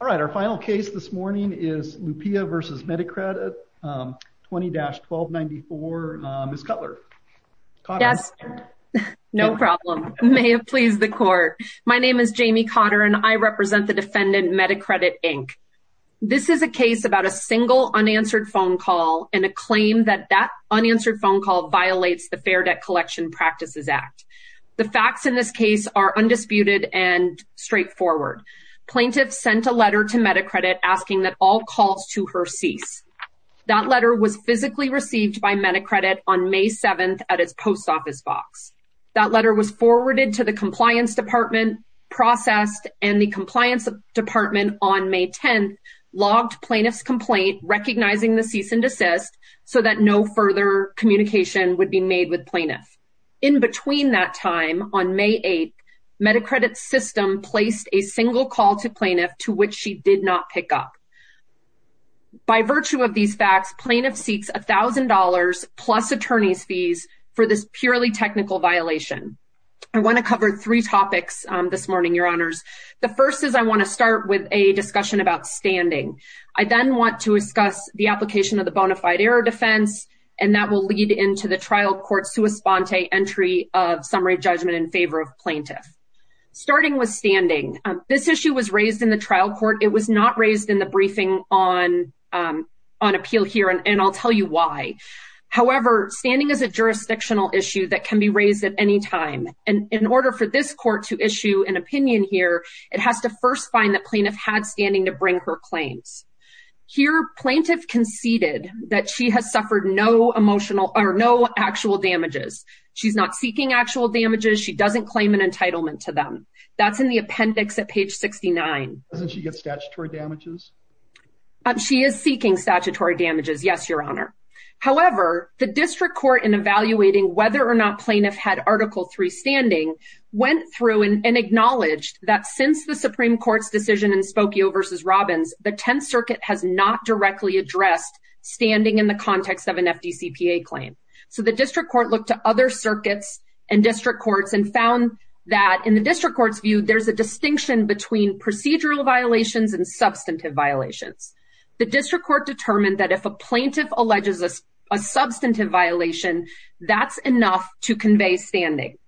All right, our final case this morning is Lupia v. Medicredit 20-1294. Ms. Cutler. Yes, no problem. May it please the court. My name is Jamie Cotter and I represent the defendant Medicredit Inc. This is a case about a single unanswered phone call and a claim that that unanswered phone call violates the Fair Debt Collection Practices Act. The facts in this case are undisputed and straightforward. Plaintiff sent a letter to Medicredit asking that all calls to her cease. That letter was physically received by Medicredit on May 7th at its post office box. That letter was forwarded to the compliance department, processed, and the compliance department on May 10th logged plaintiff's complaint recognizing the cease and desist so that no further communication would be made with plaintiff. In between that time, on May 8th, Medicredit's system placed a single call to plaintiff to which she did not pick up. By virtue of these facts, plaintiff seeks $1,000 plus attorney's fees for this purely technical violation. I want to cover three topics this morning, your honors. The first is I want to discuss the application of the bona fide error defense and that will lead into the trial court sua sponte entry of summary judgment in favor of plaintiff. Starting with standing, this issue was raised in the trial court. It was not raised in the briefing on appeal here and I'll tell you why. However, standing is a jurisdictional issue that can be raised at any time and in order for this court to issue an opinion here, it has to first find the plaintiff had standing to bring her claims. Here, plaintiff conceded that she has suffered no emotional or no actual damages. She's not seeking actual damages. She doesn't claim an entitlement to them. That's in the appendix at page 69. Doesn't she get statutory damages? She is seeking statutory damages. Yes, your honor. However, the district court in evaluating whether or not plaintiff had article three standing went through and acknowledged that since the Supreme Circuit has not directly addressed standing in the context of an FDCPA claim. So, the district court looked to other circuits and district courts and found that in the district court's view, there's a distinction between procedural violations and substantive violations. The district court determined that if a plaintiff alleges a substantive violation, that's enough to convey standing.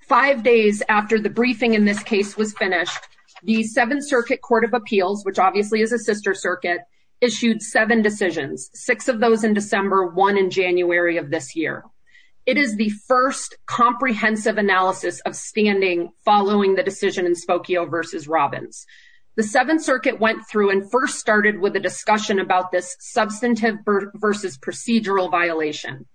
Five days after the briefing in this case was finished, the Seventh Circuit Court of Appeals, which obviously is a sister circuit, issued seven decisions, six of those in December, one in January of this year. It is the first comprehensive analysis of standing following the decision in Spokio versus Robbins. The Seventh Circuit went through and first started with a discussion about this substantive versus procedural violation.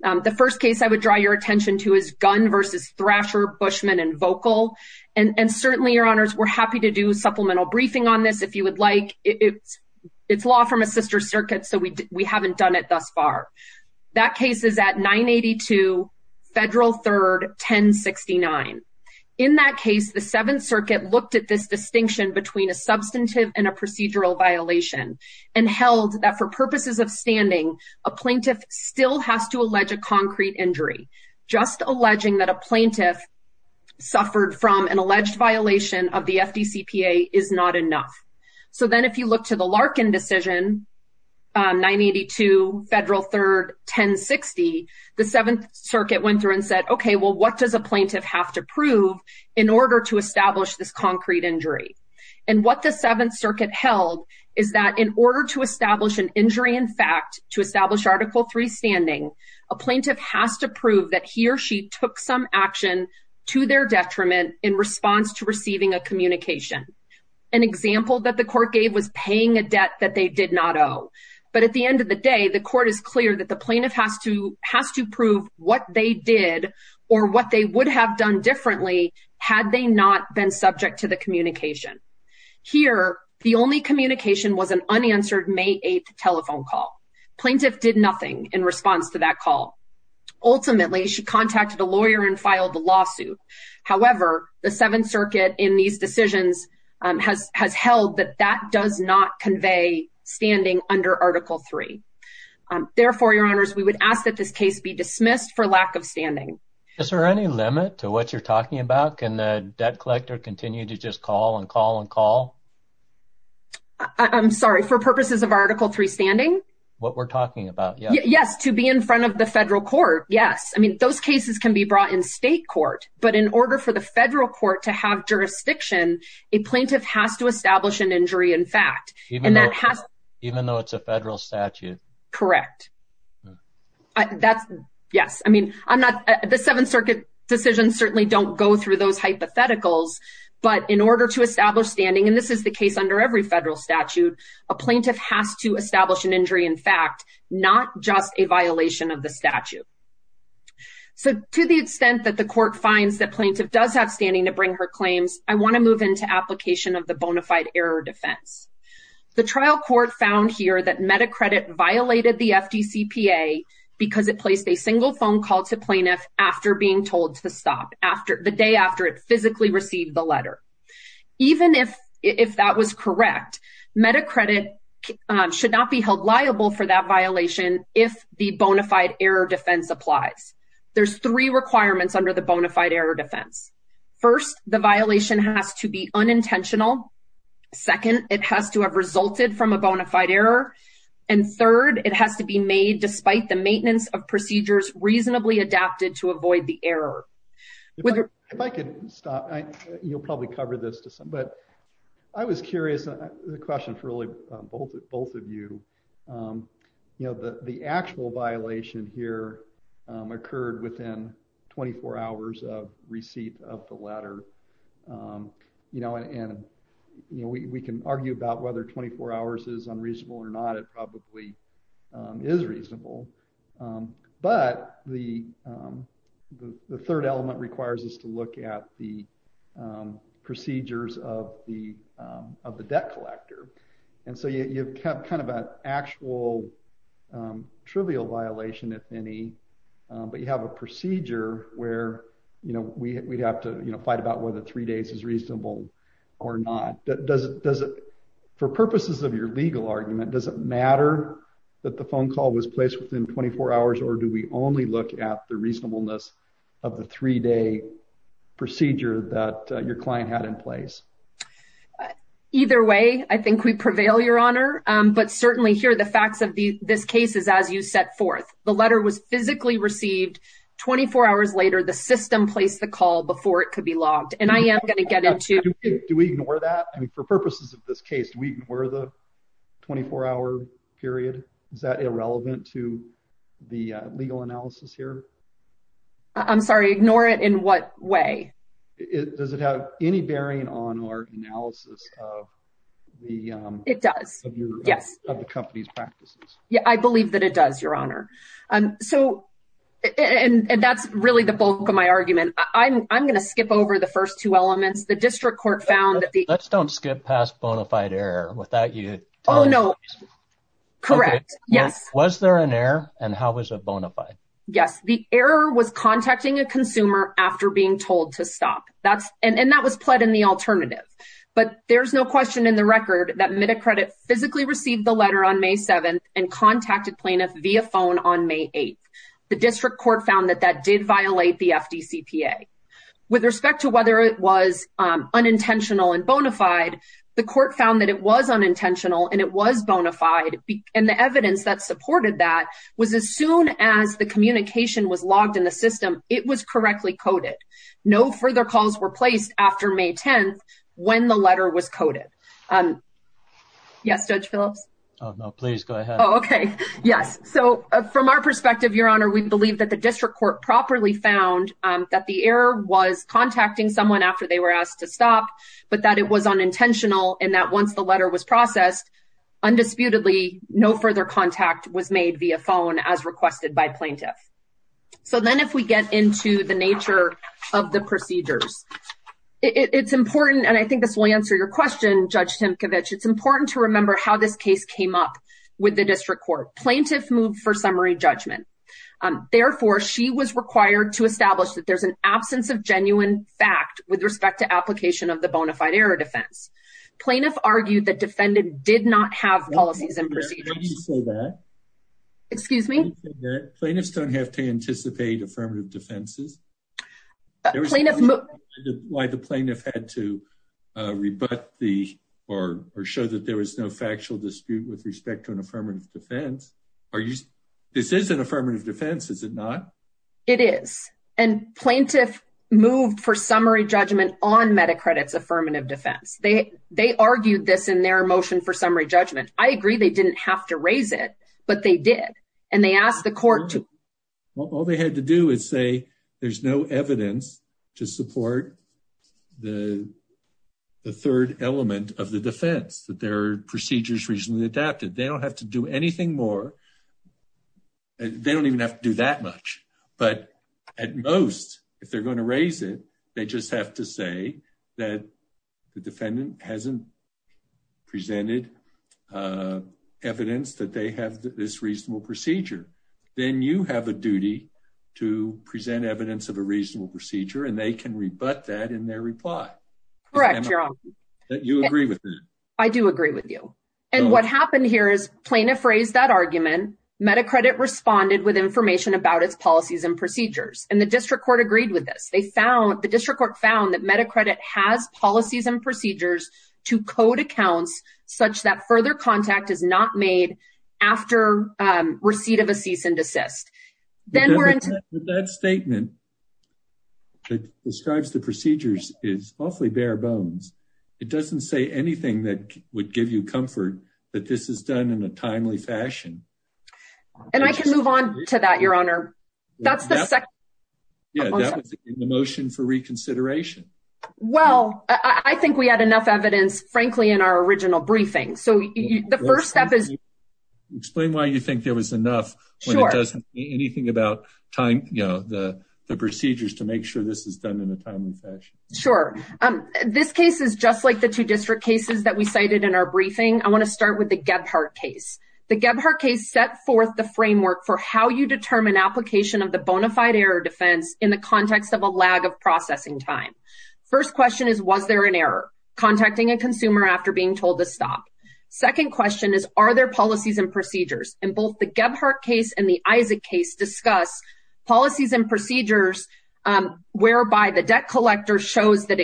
The first case I would draw your attention to is Bushman and Vocal. And certainly, your honors, we're happy to do a supplemental briefing on this if you would like. It's law from a sister circuit, so we haven't done it thus far. That case is at 982 Federal 3rd 1069. In that case, the Seventh Circuit looked at this distinction between a substantive and a procedural violation and held that for purposes of standing, a plaintiff still has to allege a concrete injury. Just alleging that a plaintiff suffered from an alleged violation of the FDCPA is not enough. So then if you look to the Larkin decision, 982 Federal 3rd 1060, the Seventh Circuit went through and said, okay, well, what does a plaintiff have to prove in order to establish this concrete injury? And what the Seventh Circuit held is that in order to establish an injury in fact, to establish Article 3 standing, a plaintiff has to prove that he or she took some action to their detriment in response to receiving a communication. An example that the court gave was paying a debt that they did not owe. But at the end of the day, the court is clear that the plaintiff has to prove what they did or what they would have done differently had they not been subject to the communication. Here, the only communication was an unanswered May 8th telephone call. Plaintiff did nothing in response to that call. Ultimately, she contacted a lawyer and filed a lawsuit. However, the Seventh Circuit in these decisions has held that that does not convey standing under Article 3. Therefore, Your Honors, we would ask that this case be dismissed for lack of standing. Is there any limit to what you're I'm sorry, for purposes of Article 3 standing? What we're talking about? Yes, to be in front of the federal court. Yes. I mean, those cases can be brought in state court. But in order for the federal court to have jurisdiction, a plaintiff has to establish an injury in fact, and that has even though it's a federal statute. Correct. That's yes. I mean, I'm not the Seventh Circuit decisions certainly don't go through those hypotheticals. But in order to establish standing, and this is the case under every federal statute, a plaintiff has to establish an injury in fact, not just a violation of the statute. So to the extent that the court finds that plaintiff does have standing to bring her claims, I want to move into application of the bona fide error defense. The trial court found here that MediCredit violated the FDCPA because it placed a single phone call to plaintiff after being told to stop after the day after it physically received the letter. Even if that was correct, MediCredit should not be held liable for that violation if the bona fide error defense applies. There's three requirements under the bona fide error defense. First, the violation has to be unintentional. Second, it has to have resulted from a bona fide error. And third, it has to be made despite the maintenance of procedures reasonably adapted to avoid the error. If I could stop, you'll probably cover this to some, but I was curious, the question for both of you. You know, the actual violation here occurred within 24 hours of receipt of the letter. You know, and we can argue about whether 24 hours is unreasonable or not. It probably is reasonable. But the third element requires us to look at the procedures of the debt collector. And so you have kind of an actual trivial violation, if any, but you have a procedure where, you know, we'd have to, you know, fight about whether three days is reasonable or not. For purposes of your legal argument, does it matter that the phone call was placed within 24 hours, or do we only look at the reasonableness of the three-day procedure that your client had in place? Either way, I think we prevail, Your Honor. But certainly here, the facts of this case is as you set forth. The letter was physically Do we ignore that? I mean, for purposes of this case, do we ignore the 24-hour period? Is that irrelevant to the legal analysis here? I'm sorry, ignore it in what way? Does it have any bearing on our analysis of the company's practices? Yeah, I believe that it does, Your Honor. And that's really the bulk of my argument. I'm going to skip over the first two elements. The district court found that the- Let's don't skip past bona fide error without you telling us- Oh, no. Correct. Yes. Was there an error, and how was it bona fide? Yes. The error was contacting a consumer after being told to stop. And that was pled in the alternative. But there's no question in the record that Mitta Credit physically received the letter on May 7th and contacted plaintiff via phone on May 8th. The district court found that that did violate the FDCPA. With respect to whether it was unintentional and bona fide, the court found that it was unintentional and it was bona fide. And the evidence that supported that was as soon as the communication was logged in the system, it was correctly coded. No further calls were placed after May 10th when the letter was coded. Yes, Judge Phillips? Oh, no, please go ahead. Okay. Yes. So from our perspective, Your Honor, we believe that the district court properly found that the error was contacting someone after they were asked to stop, but that it was unintentional and that once the letter was processed, undisputedly, no further contact was made via phone as requested by plaintiff. So then if we get into the nature of the procedures, it's important, and I think this will answer your question, Judge Timkovich, it's important to remember how this case came up with the district court. Plaintiff moved for summary judgment. Therefore, she was required to establish that there's an absence of genuine fact with respect to application of the bona fide error defense. Plaintiff argued that defendant did not have policies and procedures. Excuse me? Plaintiffs don't have to anticipate affirmative defenses? Why the plaintiff had to rebut the, or show that there was no factual dispute with respect to an affirmative defense? This is an affirmative defense, is it not? It is. And plaintiff moved for summary judgment on MediCredit's affirmative defense. They argued this in their motion for summary judgment. I agree they didn't have to raise it, but they did. And they asked the court to. All they had to do is say there's no evidence to support the third element of the defense, that their procedure's reasonably adapted. They don't have to do anything more. They don't even have to do that much. But at most, if they're going to raise it, they just have to say that the defendant hasn't presented evidence that they have this reasonable procedure. Then you have a duty to present evidence of a reasonable procedure, and they can rebut that in their reply. Correct, Your Honor. You agree with that? I do agree with you. And what happened here is plaintiff raised that argument. MediCredit responded with information about its policies and procedures. And the district court agreed with this. They found, the district court found that MediCredit has policies and procedures to code accounts such that further contact is not made after receipt of a cease and desist. That statement that describes the procedures is awfully bare bones. It doesn't say anything that would give you comfort that this is done in a timely fashion. And I can move on to that, Your Honor. Yeah, that was in the motion for reconsideration. Well, I think we had enough evidence, frankly, in our original briefing. So the first step is... Explain why you think there was enough when it doesn't mean anything about the procedures to make sure this is done in a timely fashion. Sure. This case is just like the two district cases that we cited in our briefing. I want to start with the Gebhardt case. The Gebhardt case set forth the framework for how you determine application of the bona fide error defense in the context of a lag of processing time. First question is, was there an error? Contacting a consumer after being told to stop. Second question is, are there policies and procedures? And both the Gebhardt case and the Isaac case discuss policies and procedures whereby the debt collector shows that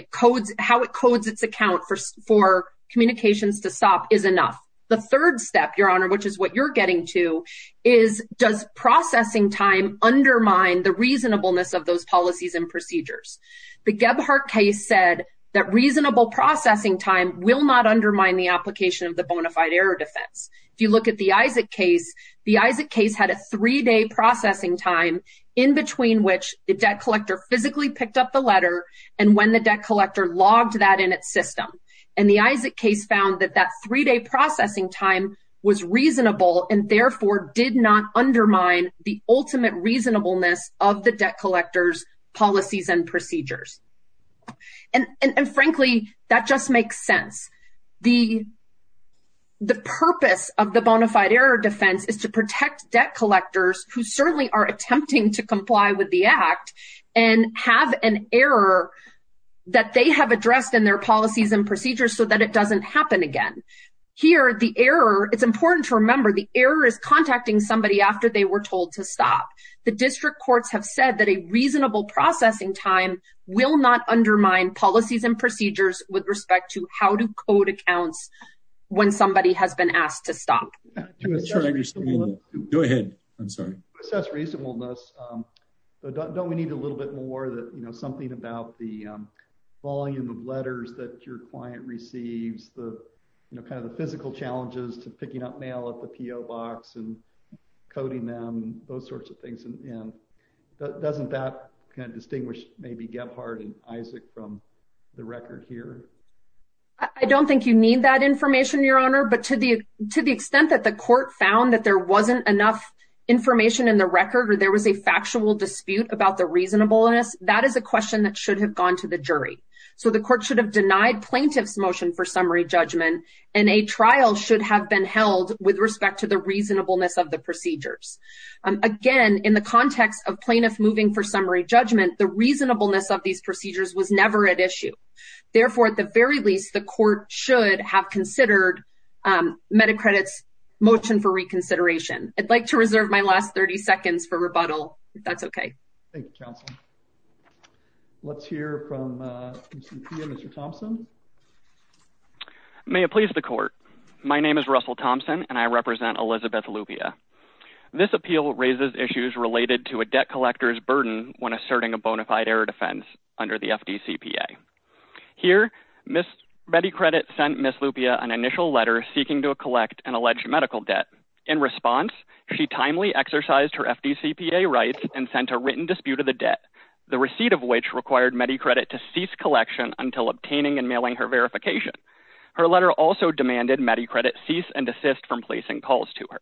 how it codes its account for communications to stop is enough. The third step, Your Honor, which is what you're getting to, is does processing time undermine the reasonableness of those policies and procedures? The Gebhardt case said that reasonable processing time will not undermine the application of the bona fide error defense. If you look at the Isaac case, the Isaac case had a three-day processing time in between which the debt collector physically picked up the letter and when the debt collector logged that in its system. And the Isaac case found that that three-day processing time was reasonable and therefore did not undermine the ultimate reasonableness of the debt collector's policies and procedures. And frankly, that just makes sense. The purpose of the bona fide error defense is to protect debt collectors who certainly are attempting to comply with the Act and have an error that they have addressed in their policies and procedures so that it doesn't happen again. Here, the error, it's important to remember, the error is contacting somebody after they were told to stop. The district courts have said that a reasonable processing time will not undermine policies and procedures with respect to how to code accounts when somebody has been asked to stop. Go ahead. I'm sorry. To assess reasonableness, don't we need a little bit more that, you know, something about the volume of letters that your client receives, the, you know, kind of the and doesn't that kind of distinguish maybe Gebhard and Isaac from the record here? I don't think you need that information, Your Honor. But to the extent that the court found that there wasn't enough information in the record or there was a factual dispute about the reasonableness, that is a question that should have gone to the jury. So the court should have denied plaintiff's motion for summary judgment and a trial should have been held with respect to the reasonableness of the procedures. Again, in the context of plaintiff moving for summary judgment, the reasonableness of these procedures was never at issue. Therefore, at the very least, the court should have considered MediCredit's motion for reconsideration. I'd like to reserve my last 30 seconds for rebuttal, if that's okay. Thank you, counsel. Let's hear from Mr. Thompson. May it please the court. My name is Russell Thompson and I represent Elizabeth Lupia. This appeal raises issues related to a debt collector's burden when asserting a bonafide error defense under the FDCPA. Here, MediCredit sent Ms. Lupia an initial letter seeking to collect an alleged medical debt. In response, she timely exercised her FDCPA rights and sent a written dispute of the debt, the receipt of which required MediCredit to cease collection until obtaining and mailing her verification. Her letter also demanded MediCredit cease and desist from placing calls to her.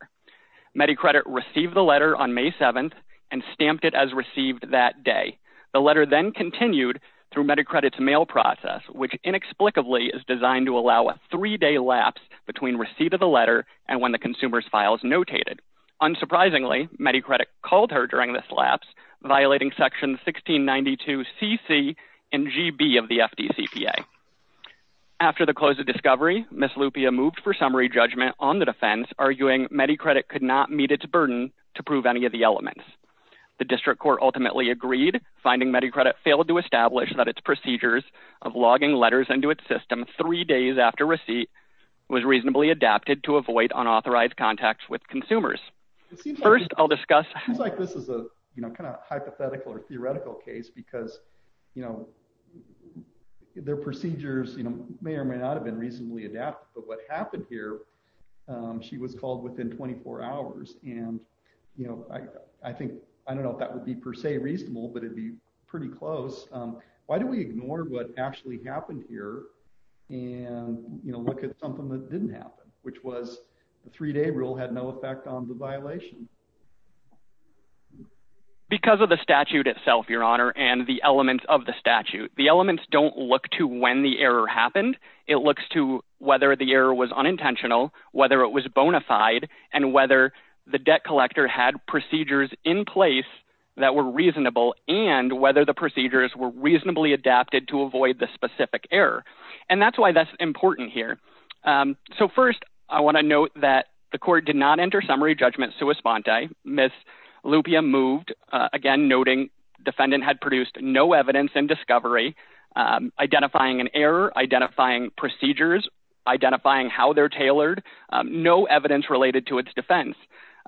MediCredit received the letter on May 7th and stamped it as received that day. The letter then continued through MediCredit's mail process, which inexplicably is designed to allow a three-day lapse between receipt of the letter and when the consumer's file is notated. Unsurprisingly, MediCredit called her during this lapse, violating section 1692 CC and GB of the FDCPA. After the close of discovery, Ms. Lupia moved for summary judgment on the defense, arguing MediCredit could not meet its burden to prove any of the elements. The district court ultimately agreed, finding MediCredit failed to establish that its procedures of logging letters into its system three days after receipt was reasonably adapted to avoid unauthorized contacts with consumers. First, I'll discuss. It seems like this is a, you know, kind of hypothetical or theoretical case because, you know, their procedures, you know, may or may not have been reasonably adapted, but what happened here, um, she was called within 24 hours and, you know, I, I think, I don't know if that would be per se reasonable, but it'd be pretty close. Um, why do we ignore what actually happened here and, you know, look at something that didn't happen, which was a three-day rule had no effect on the violation. Because of the statute itself, your honor, and the elements of the statute, the elements don't look to when the error happened. It looks to whether the error was unintentional, whether it was bona fide, and whether the debt collector had procedures in place that were reasonable and whether the procedures were reasonably adapted to avoid the specific error. And that's why that's important here. Um, so first I want to note that the court did not enter summary judgment sua sponte. Ms. Lupia moved, uh, again, noting defendant had produced no evidence and discovery, um, identifying an error, identifying procedures, identifying how they're tailored, um, no evidence related to its defense.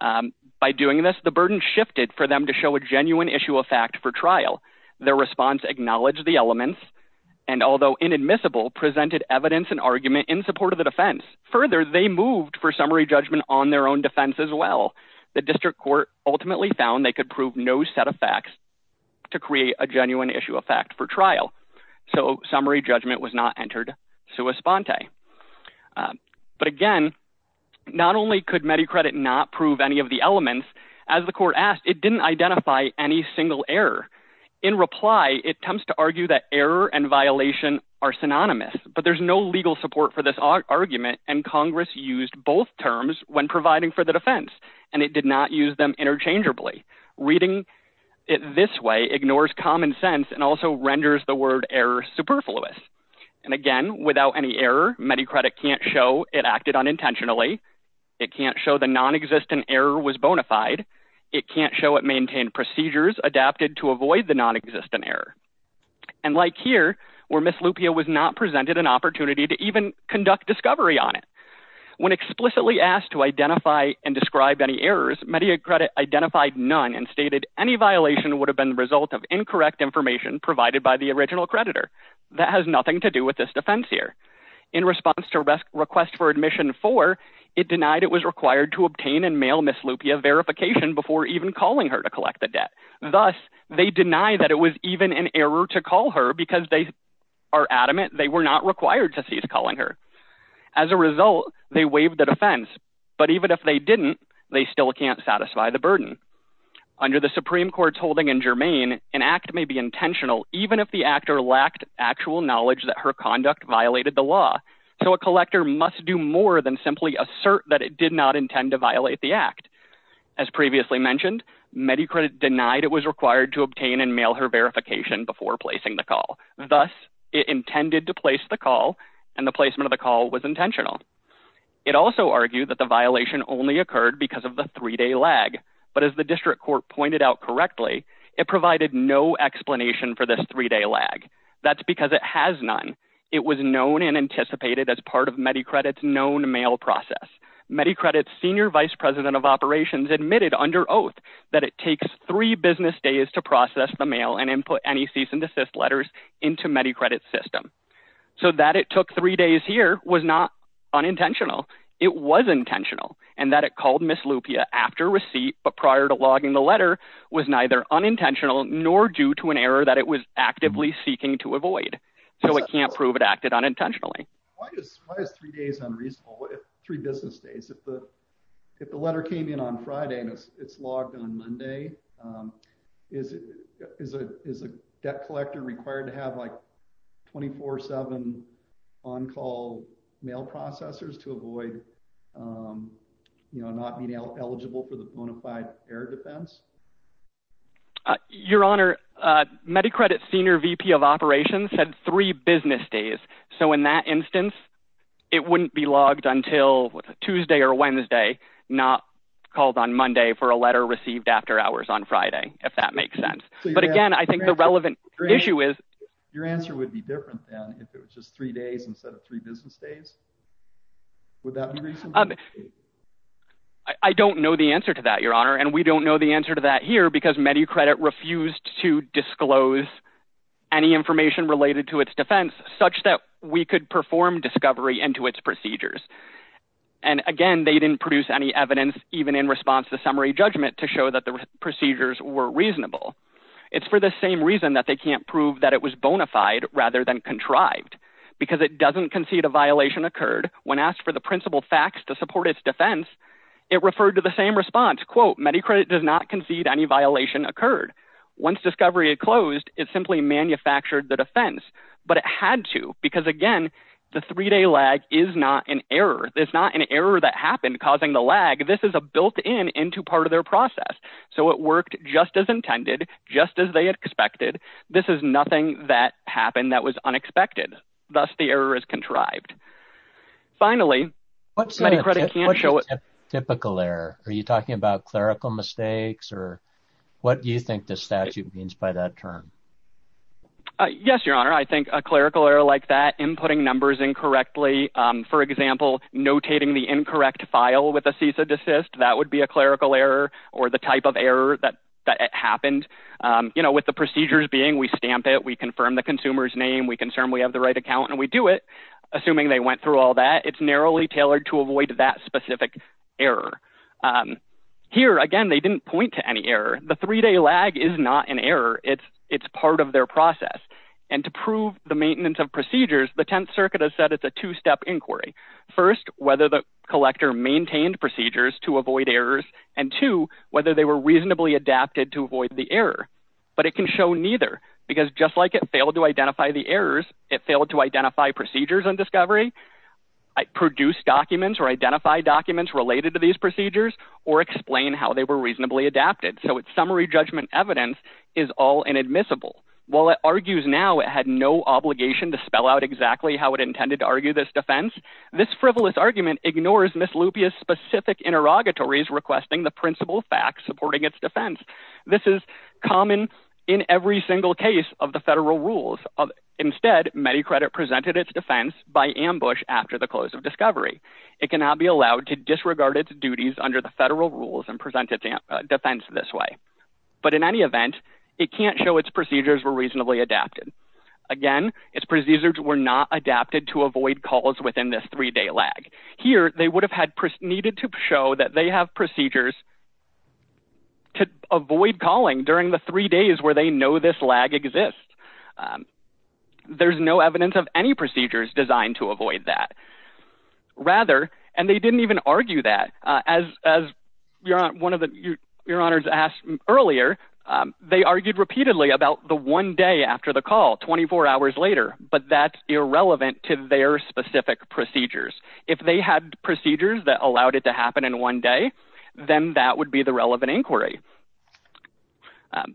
Um, by doing this, the burden shifted for them to show a genuine issue of fact for trial. Their response acknowledged the elements and although inadmissible, presented evidence and argument in support of the defense. Further, they moved for summary judgment on their own defense as well. The district court ultimately found they could prove no set of facts to create a genuine issue of fact for trial. So summary judgment was not entered sua sponte. Um, but again, not only could MediCredit not prove any of the elements, as the court asked, it didn't identify any single error. In reply, it attempts to argue that error and violation are synonymous, but there's no legal support for this argument. And Congress used both terms when providing for the defense and it did not use them interchangeably. Reading it this way ignores common sense and also renders the word error superfluous. And again, without any error, MediCredit can't show it acted unintentionally. It can't show the non-existent error was bona fide. It can't show it maintained procedures adapted to avoid the non-existent error. And like here, where Ms. Lupia was not presented an opportunity to even conduct discovery on it. When explicitly asked to identify and describe any errors, MediCredit identified none and stated any violation would have been the result of incorrect information provided by the original creditor. That has nothing to do with this defense here. In response to request for admission four, it denied it was required to obtain and mail Ms. Lupia verification before even calling her to collect the debt. Thus, they deny that it was even an error to call her because they are adamant they were not required to cease calling her. As a result, they waived the defense. But even if they didn't, they still can't satisfy the burden. Under the Supreme Court's holding in Germain, an act may be intentional even if the actor lacked actual knowledge that her conduct violated the law. So a collector must do more than simply assert that it did not intend to violate the act. As previously mentioned, MediCredit denied it was required to obtain and mail her verification before placing the call. Thus, it intended to place the call and the placement of the call was intentional. It also argued that the violation only occurred because of the three-day lag. But as the district court pointed out correctly, it provided no explanation for this three-day lag. That's because it has none. It was known and anticipated as part of MediCredit's known mail process. MediCredit's senior vice president of operations admitted under oath that it takes three business days to process the mail and input any cease and desist letters into MediCredit's system. So that it took three days here was not unintentional. It was intentional and that it called Ms. Lupia after receipt but prior to logging the letter was neither unintentional nor due to an error that it was actively seeking to avoid. So it can't prove it acted unintentionally. Why is three days unreasonable? Three business days? If the letter came in on Friday and it's logged on Monday, is a debt collector required to have like 24-7 on-call mail processors to avoid, you know, not being eligible for the bona fide error defense? Your Honor, MediCredit's senior VP of operations had three business days. So in that instance, it wouldn't be logged until Tuesday or Wednesday, not called on Monday for a letter received after hours on Friday, if that makes sense. But again, I think the relevant issue is... Your answer would be different than if it was just three days instead of three business days. Would that be reasonable? I don't know the answer to that, Your Honor. And we don't know the answer to that here because MediCredit refused to disclose any information related to its defense such that we could perform discovery into its procedures. And again, they didn't produce any evidence even in response to summary judgment to show that the procedures were reasonable. It's for the same reason that they can't prove that it was bona fide rather than contrived because it doesn't concede a support its defense. It referred to the same response, quote, MediCredit does not concede any violation occurred. Once discovery had closed, it simply manufactured the defense, but it had to, because again, the three-day lag is not an error. It's not an error that happened causing the lag. This is a built-in into part of their process. So it worked just as intended, just as they expected. This is nothing that happened that was unexpected. Thus, the error is contrived. Finally, MediCredit can't show it. What's a typical error? Are you talking about clerical mistakes or what do you think the statute means by that term? Yes, Your Honor. I think a clerical error like that, inputting numbers incorrectly, for example, notating the incorrect file with a cease and desist, that would be a clerical error or the type of error that happened. You know, with the procedures being, we stamp it, we confirm the consumer's name, we confirm we have the right account and we do it, assuming they went through all that, it's narrowly tailored to avoid that specific error. Here, again, they didn't point to any error. The three-day lag is not an error. It's part of their process. And to prove the maintenance of procedures, the Tenth Circuit has said it's a two-step inquiry. First, whether the collector maintained procedures to avoid errors and two, whether they were reasonably adapted to avoid the error. But it can show neither because just like it failed to identify the errors, it failed to identify procedures on discovery, produce documents or identify documents related to these procedures or explain how they were reasonably adapted. So its summary judgment evidence is all inadmissible. While it argues now it had no obligation to spell out exactly how it intended to argue this defense, this frivolous argument ignores Miss Lupia's specific interrogatories requesting the principal facts supporting its defense. This is common in every single case of the federal rules. Instead, MediCredit presented its defense by ambush after the close of discovery. It cannot be allowed to disregard its duties under the federal rules and present its defense this way. But in any event, it can't show its procedures were reasonably adapted. Again, its procedures were not adapted to avoid calls within this three-day lag. Here, they would have had needed to show that they have procedures to avoid calling during the three days where they know this lag exists. There's no evidence of any procedures designed to avoid that. Rather, and they didn't even argue that, as one of your honors asked earlier, they argued repeatedly about the one day after the call, 24 hours later. But that's irrelevant to their specific procedures. If they had procedures that allowed it to happen in one day, then that would be the relevant inquiry.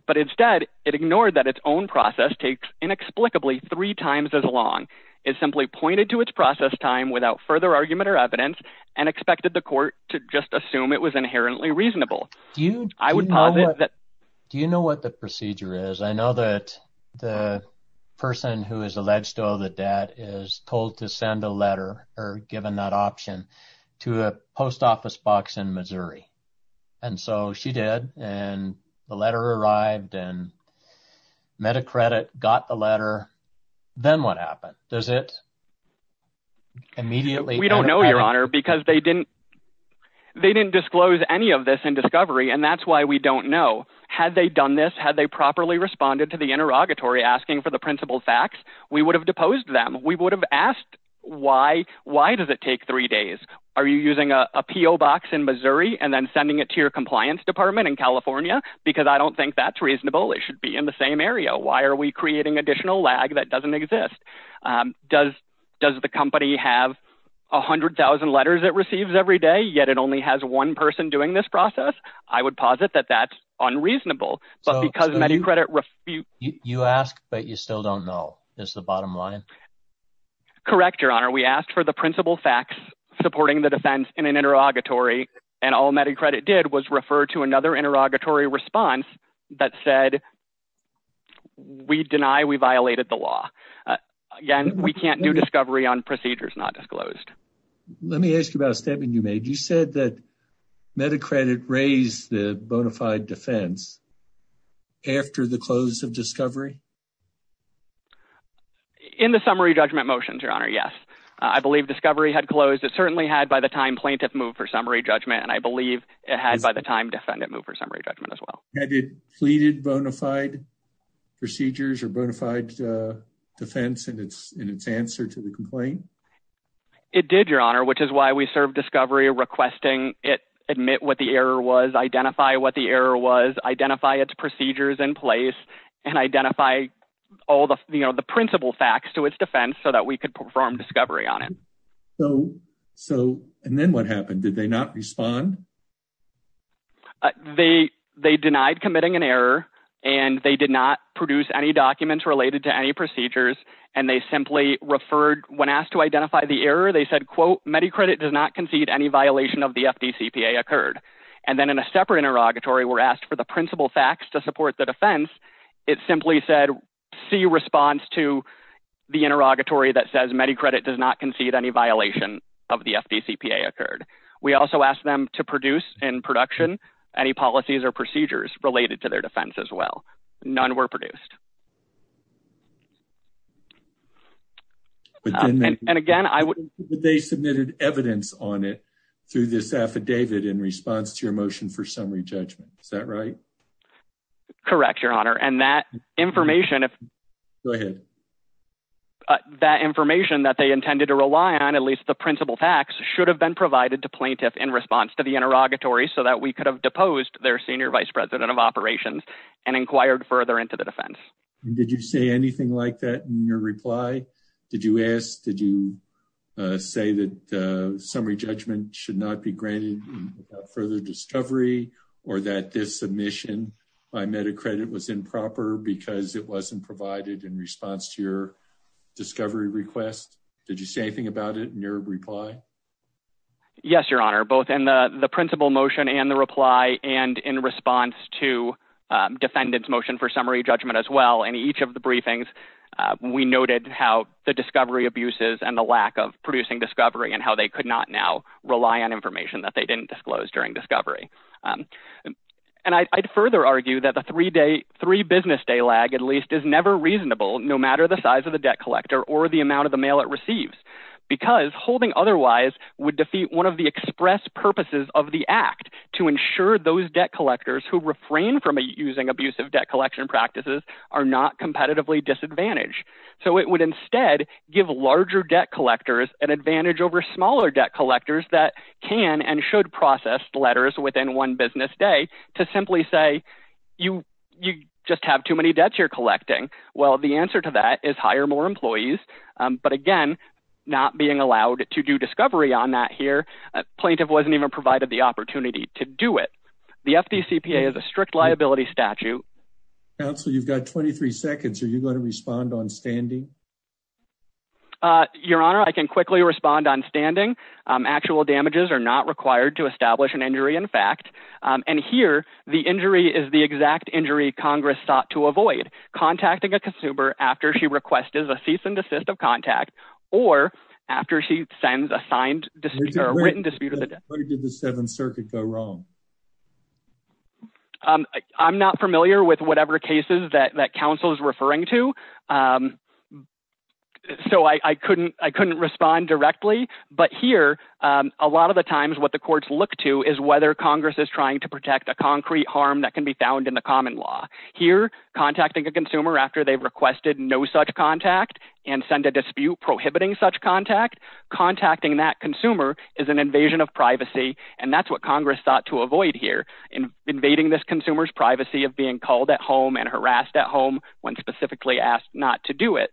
But instead, it ignored that its own process takes inexplicably three times as long. It simply pointed to its process time without further argument or evidence and expected the court to just assume it was inherently reasonable. Do you know what the procedure is? I know that the person who is alleged to owe the debt is told to send a letter or given that option to a post office box in Missouri. And so she did. And the letter arrived and met a credit, got the letter. Then what happened? Does it immediately? We don't know, your honor, because they didn't disclose any of this in discovery. And that's why we don't know. Had they done this, had they properly responded to the interrogatory asking for the principal facts, we would have deposed them. We would have asked, why does it take three days? Are you using a PO box in Missouri and then sending it to your compliance department in California? Because I don't think that's reasonable. It should be in the same area. Why are we creating additional lag that doesn't exist? Does the company have 100,000 letters it receives every day, yet it only has one person doing this process? I would posit that that's unreasonable, but because many credit you ask, but you still don't know is the bottom line. Correct, your honor. We asked for the principal facts supporting the defense in an interrogatory. And all MediCredit did was refer to another interrogatory response that said, we deny we violated the law. Again, we can't do MediCredit raise the bona fide defense after the close of discovery? In the summary judgment motions, your honor, yes. I believe discovery had closed. It certainly had by the time plaintiff moved for summary judgment. And I believe it had by the time defendant moved for summary judgment as well. Had it pleaded bona fide procedures or bona fide defense in its answer to the complaint? It did your honor, which is why we serve discovery requesting it, admit what the error was, identify what the error was, identify its procedures in place and identify all the, you know, the principal facts to its defense so that we could perform discovery on it. So, so, and then what happened? Did they not respond? They denied committing an error and they did not produce any documents related to any procedures. And they simply referred when asked to identify the error, they said, quote, MediCredit does not concede any violation of the FDCPA occurred. And then in a separate interrogatory, we're asked for the principal facts to support the defense. It simply said, see response to the interrogatory that says MediCredit does not concede any violation of the FDCPA occurred. We also asked them to produce in production, any policies or procedures related to their defense as well. None were produced. And again, I would, they submitted evidence on it through this affidavit in response to your motion for summary judgment. Is that right? Correct. Your honor. And that information, if go ahead, that information that they intended to rely on, at least the principal facts should have been provided to plaintiff in response to the interrogatory so that we could have deposed their senior vice president of operations and inquired further into the defense. Did you say anything like that in your reply? Did you ask, did you say that summary judgment should not be granted further discovery or that this submission by MediCredit was improper because it wasn't provided in response to your discovery request? Did you say anything about it in your reply? Yes, your honor, both in the principal motion and the reply and in response to defendant's motion for summary judgment as well. And each of the briefings, we noted how the discovery abuses and the lack of producing discovery and how they could not now rely on information that they didn't disclose during discovery. And I'd further argue that the three day, three business day lag, at least is never reasonable, no matter the size of the debt collector or the amount of the mail it receives because holding otherwise would defeat one of the express purposes of the act to ensure those debt collectors who refrain from using abusive debt collection practices are not competitively disadvantaged. So it would instead give larger debt collectors an advantage over smaller debt collectors that can and should process letters within one business day to simply say, you just have too many debts you're collecting. Well, the answer to that is hire more employees. But again, not being allowed to do discovery on that here. Plaintiff wasn't even provided the opportunity to do it. The FDCPA is a strict liability statute. Counsel, you've got 23 seconds. Are you going to respond on standing? Your honor, I can quickly respond on standing. Actual damages are not required to establish an injury in fact. And here the injury is the exact injury Congress sought to avoid contacting a written dispute of the debt. How did the Seventh Circuit go wrong? I'm not familiar with whatever cases that counsel is referring to. So I couldn't respond directly. But here, a lot of the times what the courts look to is whether Congress is trying to protect a concrete harm that can be found in the common law. Here, contacting a consumer after they've requested no such contact and send a dispute prohibiting such contact, contacting that consumer is an invasion of privacy. And that's what Congress thought to avoid here. Invading this consumer's privacy of being called at home and harassed at home when specifically asked not to do it.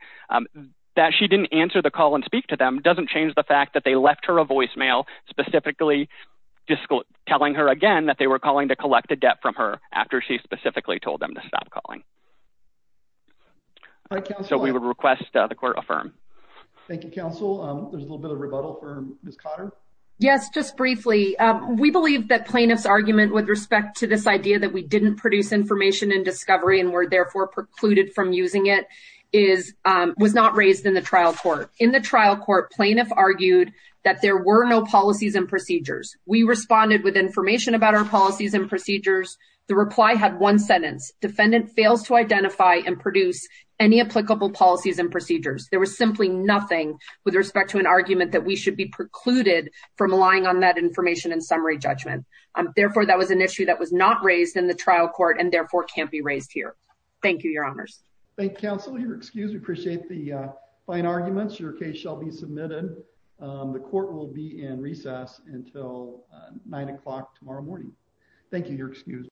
That she didn't answer the call and speak to them doesn't change the fact that they left her a voicemail specifically telling her again that they were calling to collect a debt from her after she specifically told them to stop calling. So we would request the court affirm. Thank you, counsel. There's a little bit of rebuttal for Ms. Cotter. Yes, just briefly. We believe that plaintiff's argument with respect to this idea that we didn't produce information and discovery and were therefore precluded from using it was not raised in the trial court. In the trial court, plaintiff argued that there were no policies and procedures. We responded with information about our policies and procedures. The reply had one sentence. Defendant fails to identify and produce any applicable policies and procedures. There was simply nothing with respect to an argument that we should be precluded from relying on that information and summary judgment. Therefore, that was an issue that was not raised in the trial court and therefore can't be raised here. Thank you, your honors. Thank you, counsel. You're excused. We appreciate the fine arguments. Your case shall be submitted. The court will be in recess until nine o'clock tomorrow morning. Thank you. You're excused.